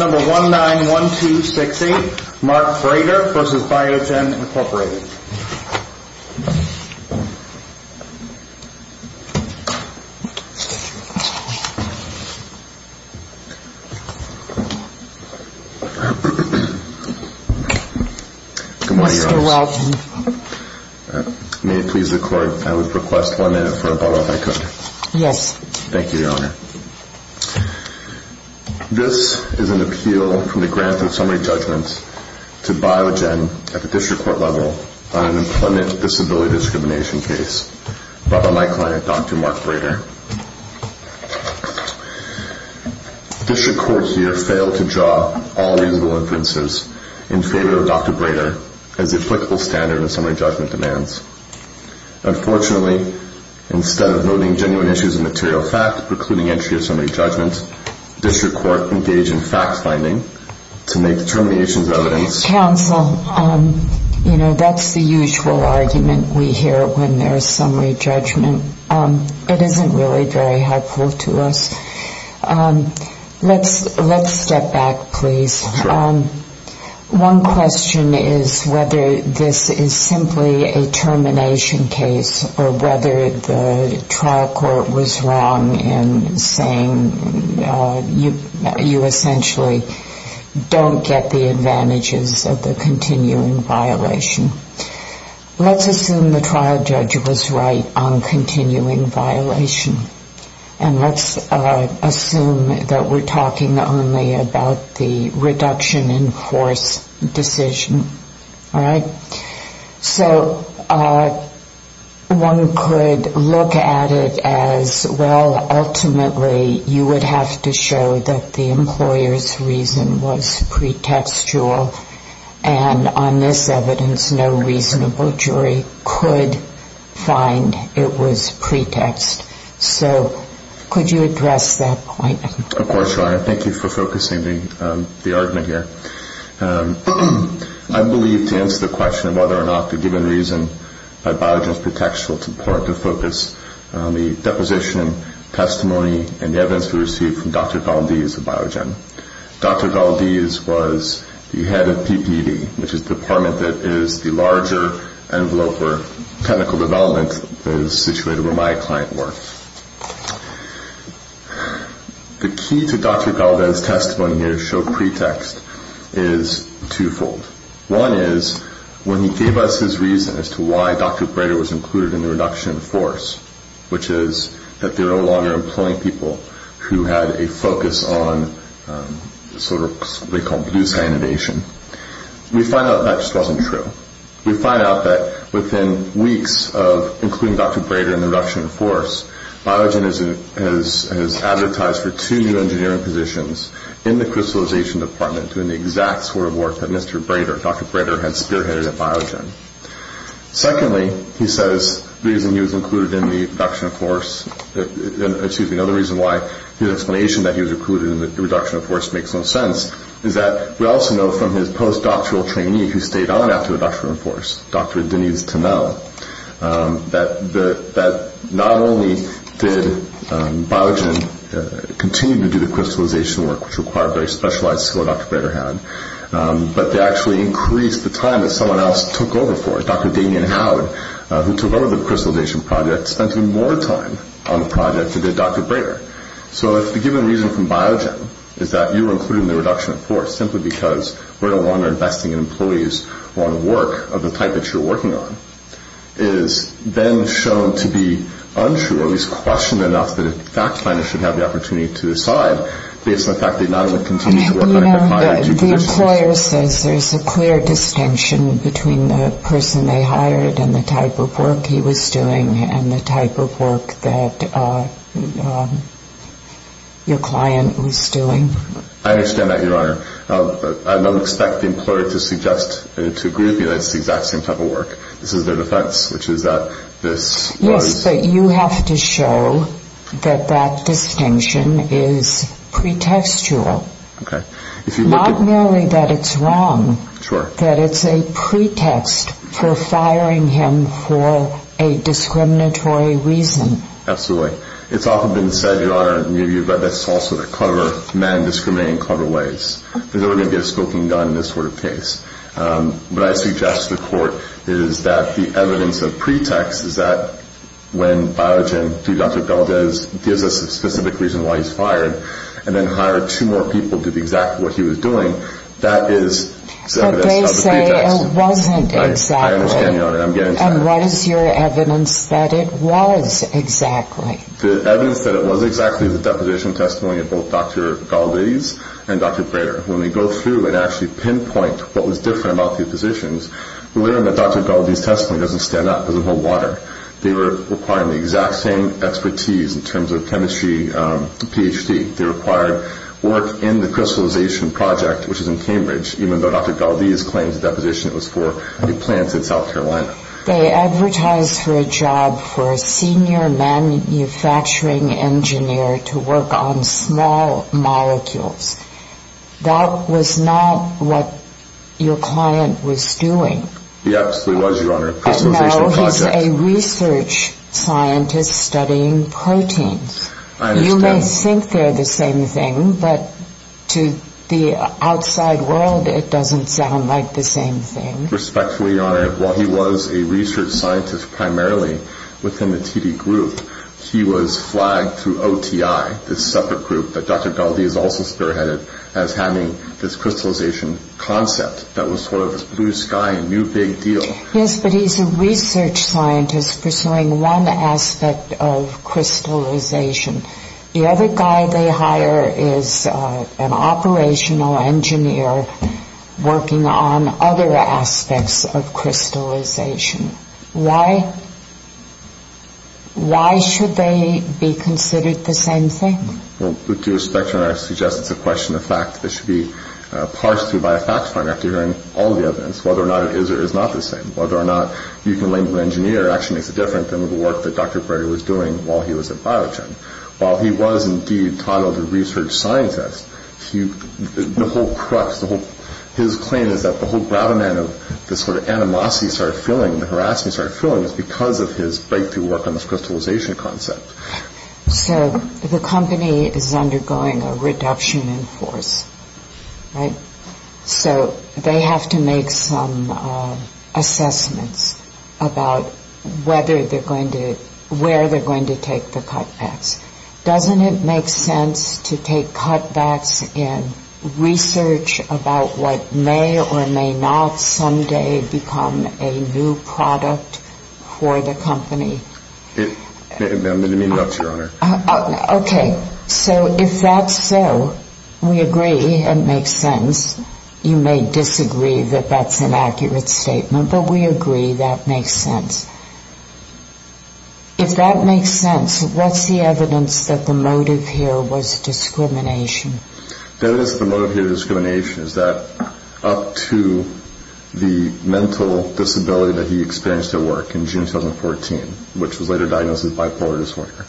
May it please the Court, I would request one minute for a bottle of my coffee. Yes. Thank you, Your Honor. This is an appeal from the Grant of Summary Judgment to Biogen at the District Court level on an employment disability discrimination case brought by my client, Dr. Mark Brader. District Court here failed to draw all reasonable inferences in favor of Dr. Brader as the applicable standard of summary judgment demands. Unfortunately, instead of noting genuine issues of material fact precluding entry of summary judgment, District Court engaged in fact-finding to make determinations of evidence. Counsel, you know, that's the usual argument we hear when there's summary judgment. It isn't really very helpful to us. Let's step back, please. Sure. One question is whether this is simply a termination case or whether the trial court was wrong in saying you essentially don't get the advantages of the continuing violation. Let's assume the trial judge was right on continuing violation. And let's assume that we're talking only about the reduction in force decision. All right? So one could look at it as, well, ultimately you would have to show that the employer's reason was pretextual, and on this evidence no reasonable jury could find it was pretext. So could you address that point? Of course, Your Honor. Thank you for focusing the argument here. I believe to answer the question of whether or not the given reason by Biogen is pretextual, it's important to focus on the deposition, testimony, and the evidence we received from Dr. Valdez of Biogen. Dr. Valdez was the head of PPD, which is the department that is the larger envelope where technical development is situated where my client worked. The key to Dr. Valdez' testimony here to show pretext is twofold. One is when he gave us his reason as to why Dr. Brader was included in the reduction in force, which is that they're no longer employing people who had a focus on sort of what they call blue sanitation, we find out that just wasn't true. We find out that within weeks of including Dr. Brader in the reduction in force, Biogen has advertised for two new engineering positions in the crystallization department doing the exact sort of work that Mr. Brader, Dr. Brader, had spearheaded at Biogen. Secondly, he says the reason he was included in the reduction in force, excuse me, another reason why his explanation that he was included in the reduction in force makes no sense is that we also know from his post-doctoral trainee who stayed on after the reduction in force, Dr. Denise Tennell, that not only did Biogen continue to do the crystallization work, which required very specialized skill Dr. Brader had, but they actually increased the time that someone else took over for it. Dr. Damien Howard, who took over the crystallization project, spent even more time on the project than did Dr. Brader. So if the given reason from Biogen is that you were included in the reduction in force simply because we're no longer investing in employees who are on the work of the type that you're working on, it is then shown to be untrue, at least questioned enough that a fact finder should have the opportunity to decide based on the fact that you're not going to continue to work on your prior two positions. The employer says there's a clear distinction between the person they hired and the type of work he was doing and the type of work that your client was doing. I understand that, Your Honor. I don't expect the employer to agree with me that it's the exact same type of work. This is their defense, which is that this was... Yes, but you have to show that that distinction is pretextual. Okay. Not merely that it's wrong. Sure. That it's a pretext for firing him for a discriminatory reason. Absolutely. It's often been said, Your Honor, that's also the clever man discriminating in clever ways. There's never going to be a smoking gun in this sort of case. What I suggest to the court is that the evidence of pretext is that when Biogen, through Dr. Galdez, gives us a specific reason why he's fired and then hired two more people to do exactly what he was doing, that is evidence of the pretext. But they say it wasn't exactly. I understand, Your Honor. I'm getting to that. And what is your evidence that it was exactly? The evidence that it was exactly is the deposition testimony of both Dr. Galdez and Dr. Brayer. When we go through and actually pinpoint what was different about these positions, we learn that Dr. Galdez's testimony doesn't stand up, doesn't hold water. They were requiring the exact same expertise in terms of chemistry, Ph.D. They required work in the crystallization project, which is in Cambridge, even though Dr. Galdez claims the deposition was for the plants in South Carolina. They advertised for a job for a senior manufacturing engineer to work on small molecules. That was not what your client was doing. He absolutely was, Your Honor. But now he's a research scientist studying proteins. I understand. You may think they're the same thing, but to the outside world, it doesn't sound like the same thing. Respectfully, Your Honor, while he was a research scientist primarily within the TD group, he was flagged through OTI, this separate group that Dr. Galdez also spearheaded, as having this crystallization concept that was sort of a blue sky, new big deal. Yes, but he's a research scientist pursuing one aspect of crystallization. The other guy they hire is an operational engineer working on other aspects of crystallization. Why should they be considered the same thing? Well, with due respect, Your Honor, I suggest it's a question of fact that should be parsed through by a fact finder after hearing all the evidence, whether or not it is or is not the same, whether or not you can link to an engineer actually makes a difference than the work that Dr. Brady was doing while he was at Biogen. While he was indeed titled a research scientist, the whole crux, his claim is that the whole gravamen of this sort of animosity he started feeling, the harassment he started feeling, was because of his breakthrough work on this crystallization concept. So the company is undergoing a reduction in force, right? So they have to make some assessments about whether they're going to, where they're going to take the cutbacks. Doesn't it make sense to take cutbacks in research about what may or may not someday become a new product for the company? I didn't mean that, Your Honor. Okay. So if that's so, we agree it makes sense. You may disagree that that's an accurate statement, but we agree that makes sense. If that makes sense, what's the evidence that the motive here was discrimination? The evidence that the motive here was discrimination is that up to the mental disability that he experienced at work in June 2014, which was later diagnosed as bipolar disorder,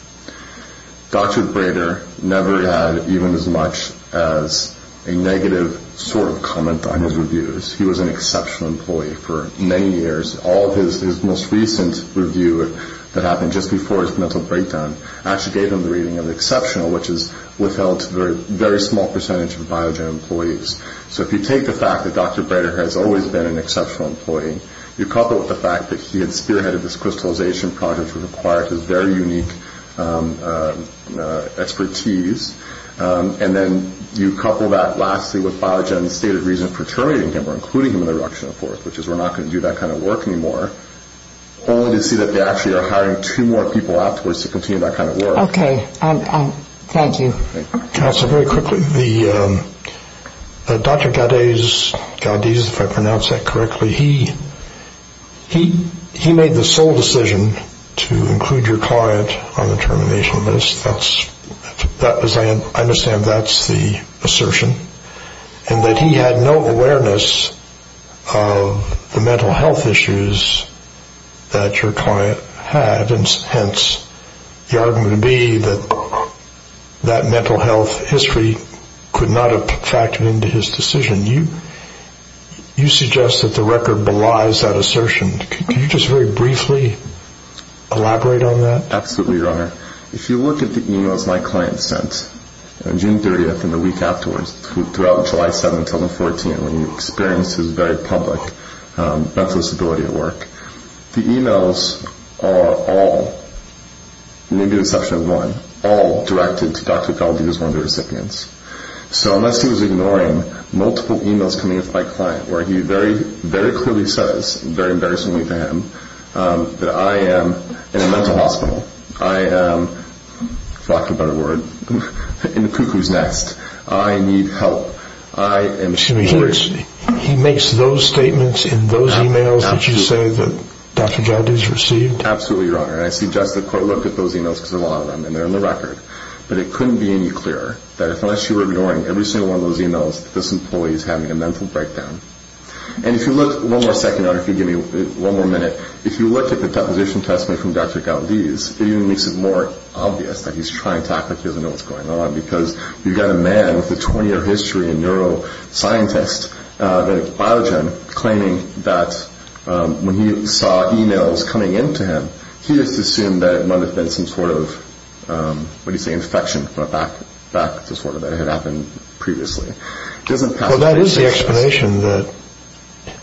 Dr. Brader never had even as much as a negative sort of comment on his reviews. He was an exceptional employee for many years. All of his most recent review that happened just before his mental breakdown actually gave him the reading of exceptional, which is withheld to a very small percentage of Biogen employees. So if you take the fact that Dr. Brader has always been an exceptional employee, you couple it with the fact that he had spearheaded this crystallization project which required his very unique expertise, and then you couple that, lastly, with Biogen's stated reason for terminating him or including him in the reduction of force, which is we're not going to do that kind of work anymore, only to see that they actually are hiring two more people afterwards to continue that kind of work. Okay. Thank you. Counsel, very quickly, Dr. Gaudese, if I pronounced that correctly, he made the sole decision to include your client on the termination list. I understand that's the assertion, and that he had no awareness of the mental health issues that your client had, and hence the argument would be that that mental health history could not have factored into his decision. You suggest that the record belies that assertion. Can you just very briefly elaborate on that? Absolutely, Your Honor. If you look at the e-mails my client sent, June 30th and the week afterwards, throughout July 7, 2014, when he experienced his very public, breathless ability at work, the e-mails are all, maybe with the exception of one, all directed to Dr. Gaudese as one of the recipients. So unless he was ignoring multiple e-mails coming in from my client, where he very clearly says, very embarrassingly to him, that I am in a mental hospital, I am, for lack of a better word, in the cuckoo's nest, I need help. He makes those statements in those e-mails that you say that Dr. Gaudese received? Absolutely, Your Honor. And I suggest the court looked at those e-mails, because there are a lot of them, and they're in the record. But it couldn't be any clearer that unless you were ignoring every single one of those e-mails, this employee is having a mental breakdown. And if you look, one more second, Your Honor, if you give me one more minute, if you look at the deposition testimony from Dr. Gaudese, it even makes it more obvious that he's trying to act like he doesn't know what's going on, because you've got a man with a 20-year history, a neuroscientist, a biogen, claiming that when he saw e-mails coming in to him, he just assumed that it might have been some sort of, what do you say, infection, back to sort of what had happened previously. Well, that is the explanation that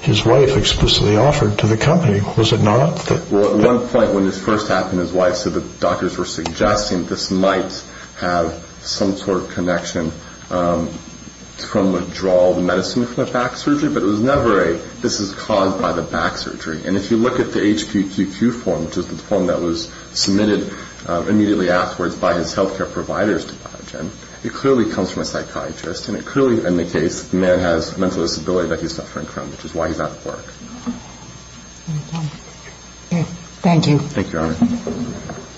his wife explicitly offered to the company, was it not? Well, at one point when this first happened, so the doctors were suggesting this might have some sort of connection from withdrawal of medicine from the back surgery, but it was never a this is caused by the back surgery. And if you look at the HPQQ form, which is the form that was submitted immediately afterwards by his health care provider's biogen, it clearly comes from a psychiatrist, and it clearly indicates the man has mental disability that he's suffering from, which is why he's out of work. Thank you. Thank you, Your Honor.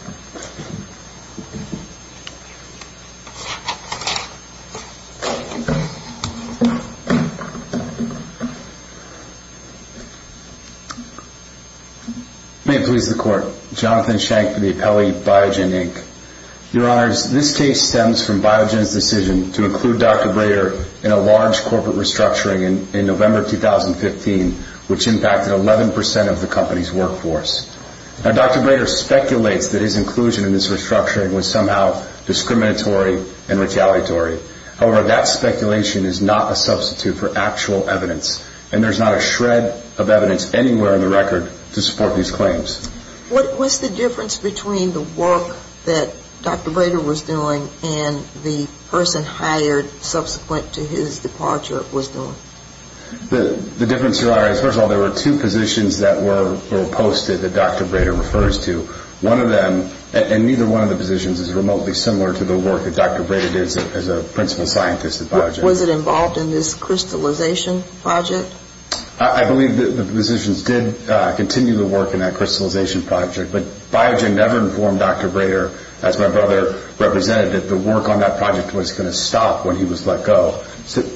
May it please the Court. Jonathan Shank from the appellee Biogen, Inc. Your Honors, this case stems from Biogen's decision to include Dr. Brader in a large corporate restructuring in November 2015, which impacted 11% of the company's workforce. Now, Dr. Brader speculates that his inclusion in this restructuring was somehow discriminatory and retaliatory. However, that speculation is not a substitute for actual evidence, and there's not a shred of evidence anywhere in the record to support these claims. What was the difference between the work that Dr. Brader was doing and the person hired subsequent to his departure was doing? The difference, Your Honor, is first of all there were two positions that were posted that Dr. Brader refers to. One of them, and neither one of the positions, is remotely similar to the work that Dr. Brader did as a principal scientist at Biogen. Was it involved in this crystallization project? I believe the positions did continue the work in that crystallization project, but Biogen never informed Dr. Brader, as my brother represented it, that the work on that project was going to stop when he was let go.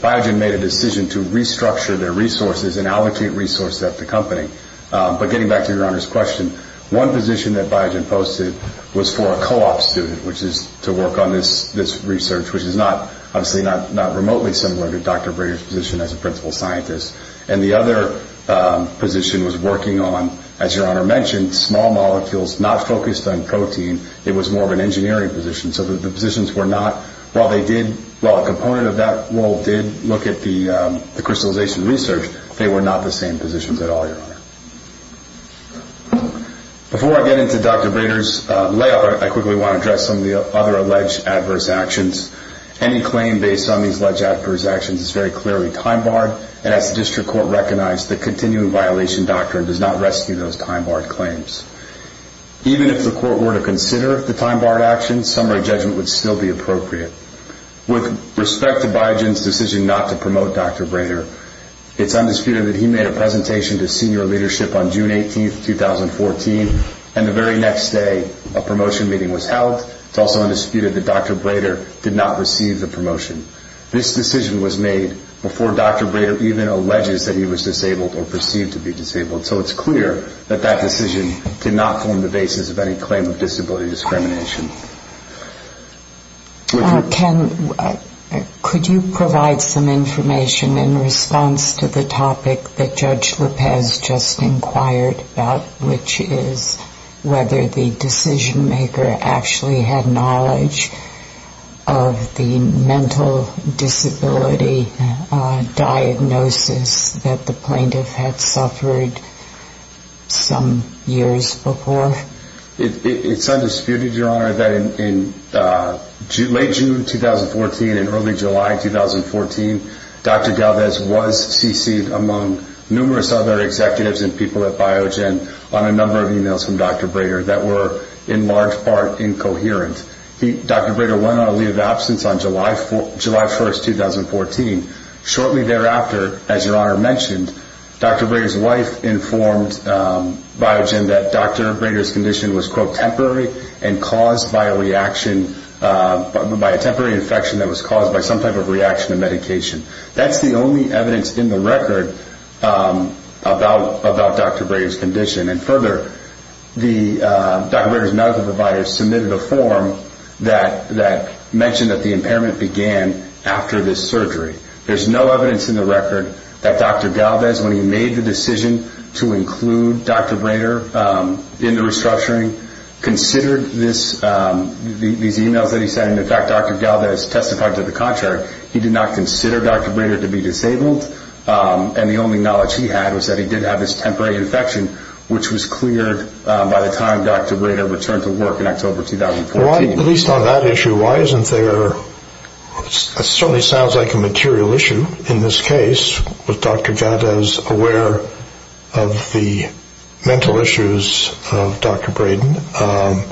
Biogen made a decision to restructure their resources and allocate resources at the company. But getting back to Your Honor's question, one position that Biogen posted was for a co-op student, which is to work on this research, which is obviously not remotely similar to Dr. Brader's position as a principal scientist. And the other position was working on, as Your Honor mentioned, small molecules not focused on protein. It was more of an engineering position. So the positions were not, while a component of that role did look at the crystallization research, they were not the same positions at all, Your Honor. Before I get into Dr. Brader's layout, I quickly want to address some of the other alleged adverse actions. Any claim based on these alleged adverse actions is very clearly time-barred, and as the district court recognized, the continuing violation doctrine does not rescue those time-barred claims. Even if the court were to consider the time-barred actions, summary judgment would still be appropriate. With respect to Biogen's decision not to promote Dr. Brader, it's undisputed that he made a presentation to senior leadership on June 18, 2014, and the very next day a promotion meeting was held. It's also undisputed that Dr. Brader did not receive the promotion. This decision was made before Dr. Brader even alleges that he was disabled or perceived to be disabled. So it's clear that that decision did not form the basis of any claim of disability discrimination. Ken, could you provide some information in response to the topic that Judge Lopez just inquired about, which is whether the decision-maker actually had knowledge of the mental disability diagnosis that the plaintiff had suffered some years before? It's undisputed, Your Honor, that in late June 2014 and early July 2014, Dr. Galvez was CC'd among numerous other executives and people at Biogen on a number of emails from Dr. Brader that were in large part incoherent. Dr. Brader went on a leave of absence on July 1, 2014. Shortly thereafter, as Your Honor mentioned, Dr. Brader's wife informed Biogen that Dr. Brader's condition was, quote, temporary and caused by a reaction by a temporary infection that was caused by some type of reaction to medication. That's the only evidence in the record about Dr. Brader's condition. And further, Dr. Brader's medical provider submitted a form that mentioned that the impairment began after this surgery. There's no evidence in the record that Dr. Galvez, when he made the decision to include Dr. Brader in the restructuring, considered these emails that he sent. In fact, Dr. Galvez testified to the contrary. He did not consider Dr. Brader to be disabled, and the only knowledge he had was that he did have this temporary infection, which was cleared by the time Dr. Brader returned to work in October 2014. At least on that issue, why isn't there, it certainly sounds like a material issue in this case, was Dr. Galvez aware of the mental issues of Dr. Brader?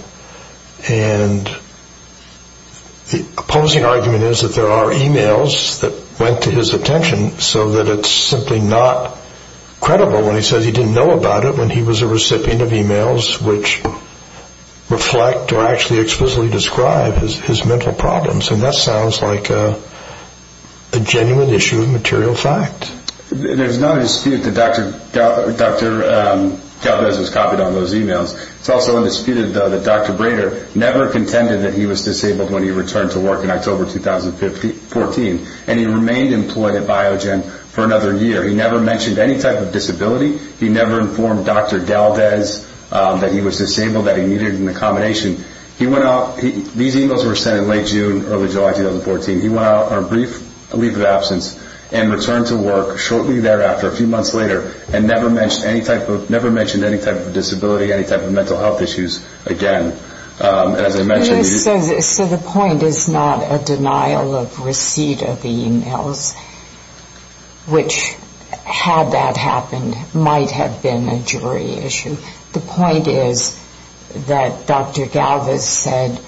And the opposing argument is that there are emails that went to his attention so that it's simply not credible when he says he didn't know about it when he was a recipient of emails which reflect or actually explicitly describe his mental problems. And that sounds like a genuine issue of material fact. There's no dispute that Dr. Galvez was copied on those emails. It's also undisputed that Dr. Brader never contended that he was disabled when he returned to work in October 2014, and he remained employed at Biogen for another year. He never mentioned any type of disability. He never informed Dr. Galvez that he was disabled, that he needed an accommodation. These emails were sent in late June, early July 2014. He went out on a brief leave of absence and returned to work shortly thereafter, a few months later, and never mentioned any type of disability, any type of mental health issues again. So the point is not a denial of receipt of the emails, which, had that happened, might have been a jury issue. The point is that Dr. Galvez said,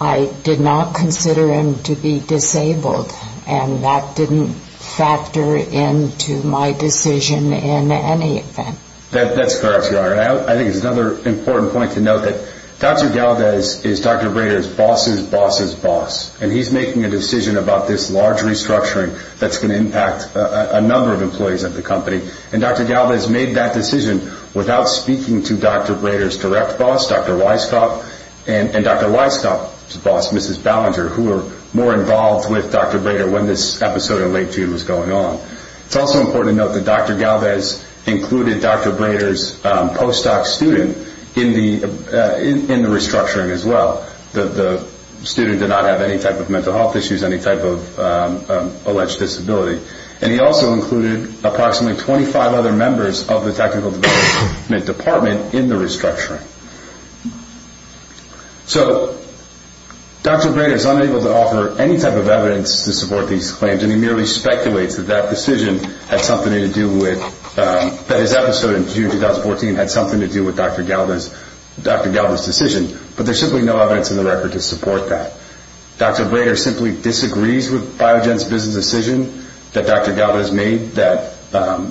I did not consider him to be disabled, and that didn't factor into my decision in any event. That's correct, Your Honor. I think it's another important point to note that Dr. Galvez is Dr. Brader's boss's boss's boss, and he's making a decision about this large restructuring that's going to impact a number of employees at the company. And Dr. Galvez made that decision without speaking to Dr. Brader's direct boss, Dr. Weiskopf, and Dr. Weiskopf's boss, Mrs. Ballinger, who were more involved with Dr. Brader when this episode in late June was going on. It's also important to note that Dr. Galvez included Dr. Brader's postdoc student in the restructuring as well. The student did not have any type of mental health issues, any type of alleged disability. And he also included approximately 25 other members of the technical development department in the restructuring. So Dr. Brader is unable to offer any type of evidence to support these claims, and he merely speculates that that decision had something to do with, that his episode in June 2014 had something to do with Dr. Galvez's decision. But there's simply no evidence in the record to support that. Dr. Brader simply disagrees with Biogen's business decision that Dr. Galvez made, that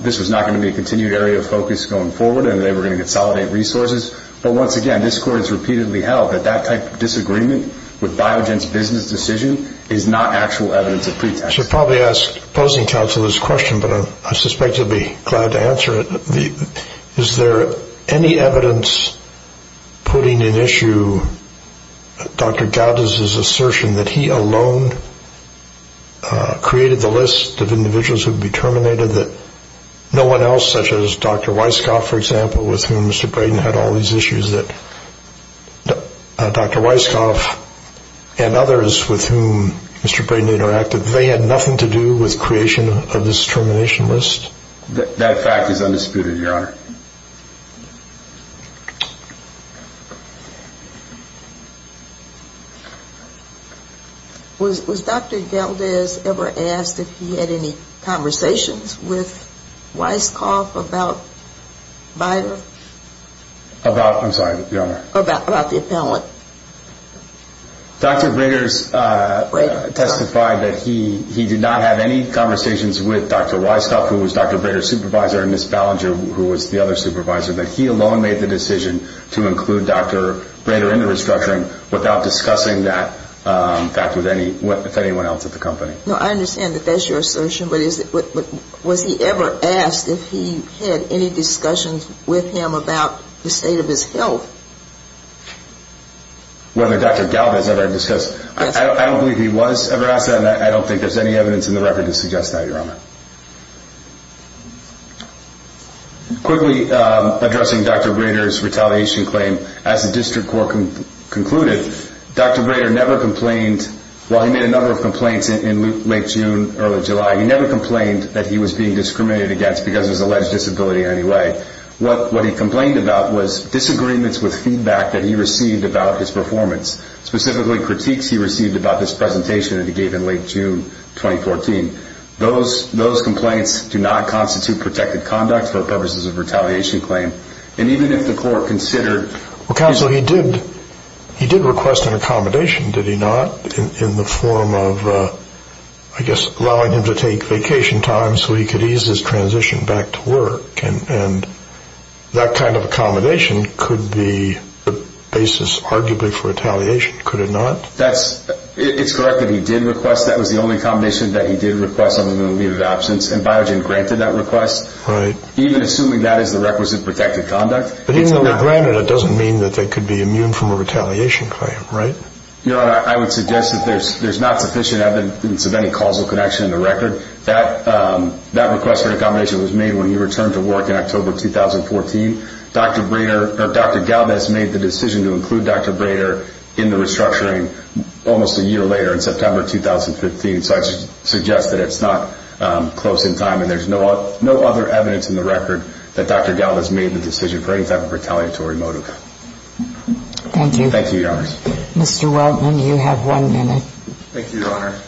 this was not going to be a continued area of focus going forward, and they were going to consolidate resources. But once again, this court has repeatedly held that that type of disagreement with Biogen's business decision is not actual evidence of pretext. I should probably ask opposing counsel this question, but I suspect he'll be glad to answer it. Is there any evidence putting in issue Dr. Galvez's assertion that he alone created the list of individuals who would be terminated, that no one else such as Dr. Weisskopf, for example, with whom Mr. Brader had all these issues, that Dr. Weisskopf and others with whom Mr. Brader interacted, they had nothing to do with creation of this termination list? That fact is undisputed, Your Honor. Was Dr. Galvez ever asked if he had any conversations with Weisskopf about Biogen? About, I'm sorry, Your Honor. About the appellant. Dr. Brader testified that he did not have any conversations with Dr. Weisskopf, who was Dr. Brader's supervisor, and Ms. Ballinger, who was the other supervisor, that he alone made the decision to include Dr. Brader in the restructuring without discussing that fact with anyone else at the company. No, I understand that that's your assertion, but was he ever asked if he had any discussions with him about the state of his health? Whether Dr. Galvez ever discussed, I don't believe he was ever asked that, and I don't think there's any evidence in the record to suggest that, Your Honor. Quickly, addressing Dr. Brader's retaliation claim, as the district court concluded, Dr. Brader never complained. While he made a number of complaints in late June, early July, he never complained that he was being discriminated against because of his alleged disability in any way. What he complained about was disagreements with feedback that he received about his performance, specifically critiques he received about this presentation that he gave in late June 2014. Those complaints do not constitute protected conduct for purposes of retaliation claim, and even if the court considered— Well, counsel, he did request an accommodation, did he not, in the form of, I guess, allowing him to take vacation time so he could ease his transition back to work, and that kind of accommodation could be the basis, arguably, for retaliation, could it not? That's—it's correct that he did request. That was the only accommodation that he did request on the moment of absence, and Biogen granted that request. Right. Even assuming that is the requisite protected conduct, it's not. But even though he granted it, it doesn't mean that they could be immune from a retaliation claim, right? Your Honor, I would suggest that there's not sufficient evidence of any causal connection in the record. That request for accommodation was made when he returned to work in October 2014. Dr. Brader—or Dr. Galvez made the decision to include Dr. Brader in the restructuring almost a year later, in September 2015, so I suggest that it's not close in time, and there's no other evidence in the record that Dr. Galvez made the decision for any type of retaliatory motive. Thank you. Thank you, Your Honor. Mr. Weltman, you have one minute. Thank you, Your Honor.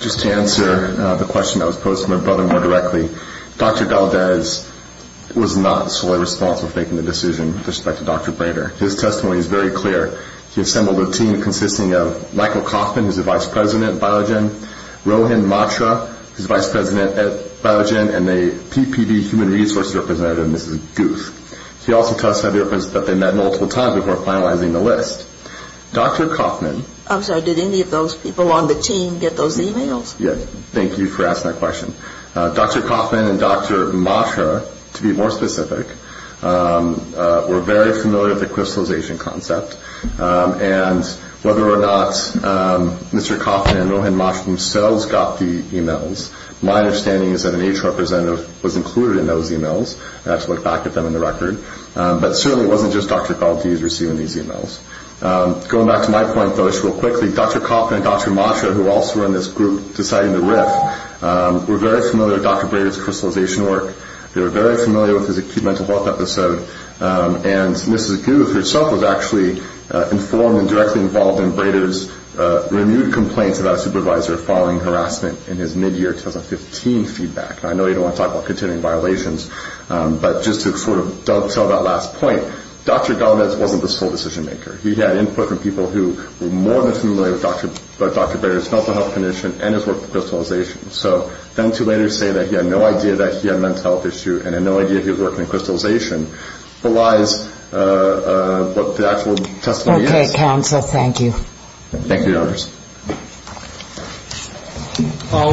Just to answer the question that was posed to my brother more directly, Dr. Galvez was not solely responsible for making the decision with respect to Dr. Brader. His testimony is very clear. He assembled a team consisting of Michael Kaufman, who's the vice president at Biogen, Rohan Matra, who's the vice president at Biogen, and a PPD human resources representative, Mrs. Guth. He also testified that they met multiple times before finalizing the list. Dr. Kaufman— I'm sorry, did any of those people on the team get those emails? Yes. Thank you for asking that question. Dr. Kaufman and Dr. Matra, to be more specific, were very familiar with the crystallization concept, and whether or not Mr. Kaufman and Rohan Matra themselves got the emails. My understanding is that an HR representative was included in those emails. I have to look back at them in the record. But certainly it wasn't just Dr. Galvez receiving these emails. Going back to my point, though, I should real quickly, Dr. Kaufman and Dr. Matra, who also were in this group deciding the RIF, were very familiar with Dr. Brader's crystallization work. They were very familiar with his acute mental health episode, and Mrs. Guth herself was actually informed and directly involved in Brader's renewed complaints about a supervisor following harassment in his mid-year 2015 feedback. I know you don't want to talk about continuing violations, but just to sort of dovetail that last point, Dr. Galvez wasn't the sole decision maker. He had input from people who were more than familiar with Dr. Brader's mental health condition and his work with crystallization. So then to later say that he had no idea that he had a mental health issue and had no idea he was working on crystallization belies what the actual testimony is. Okay, counsel. Thank you.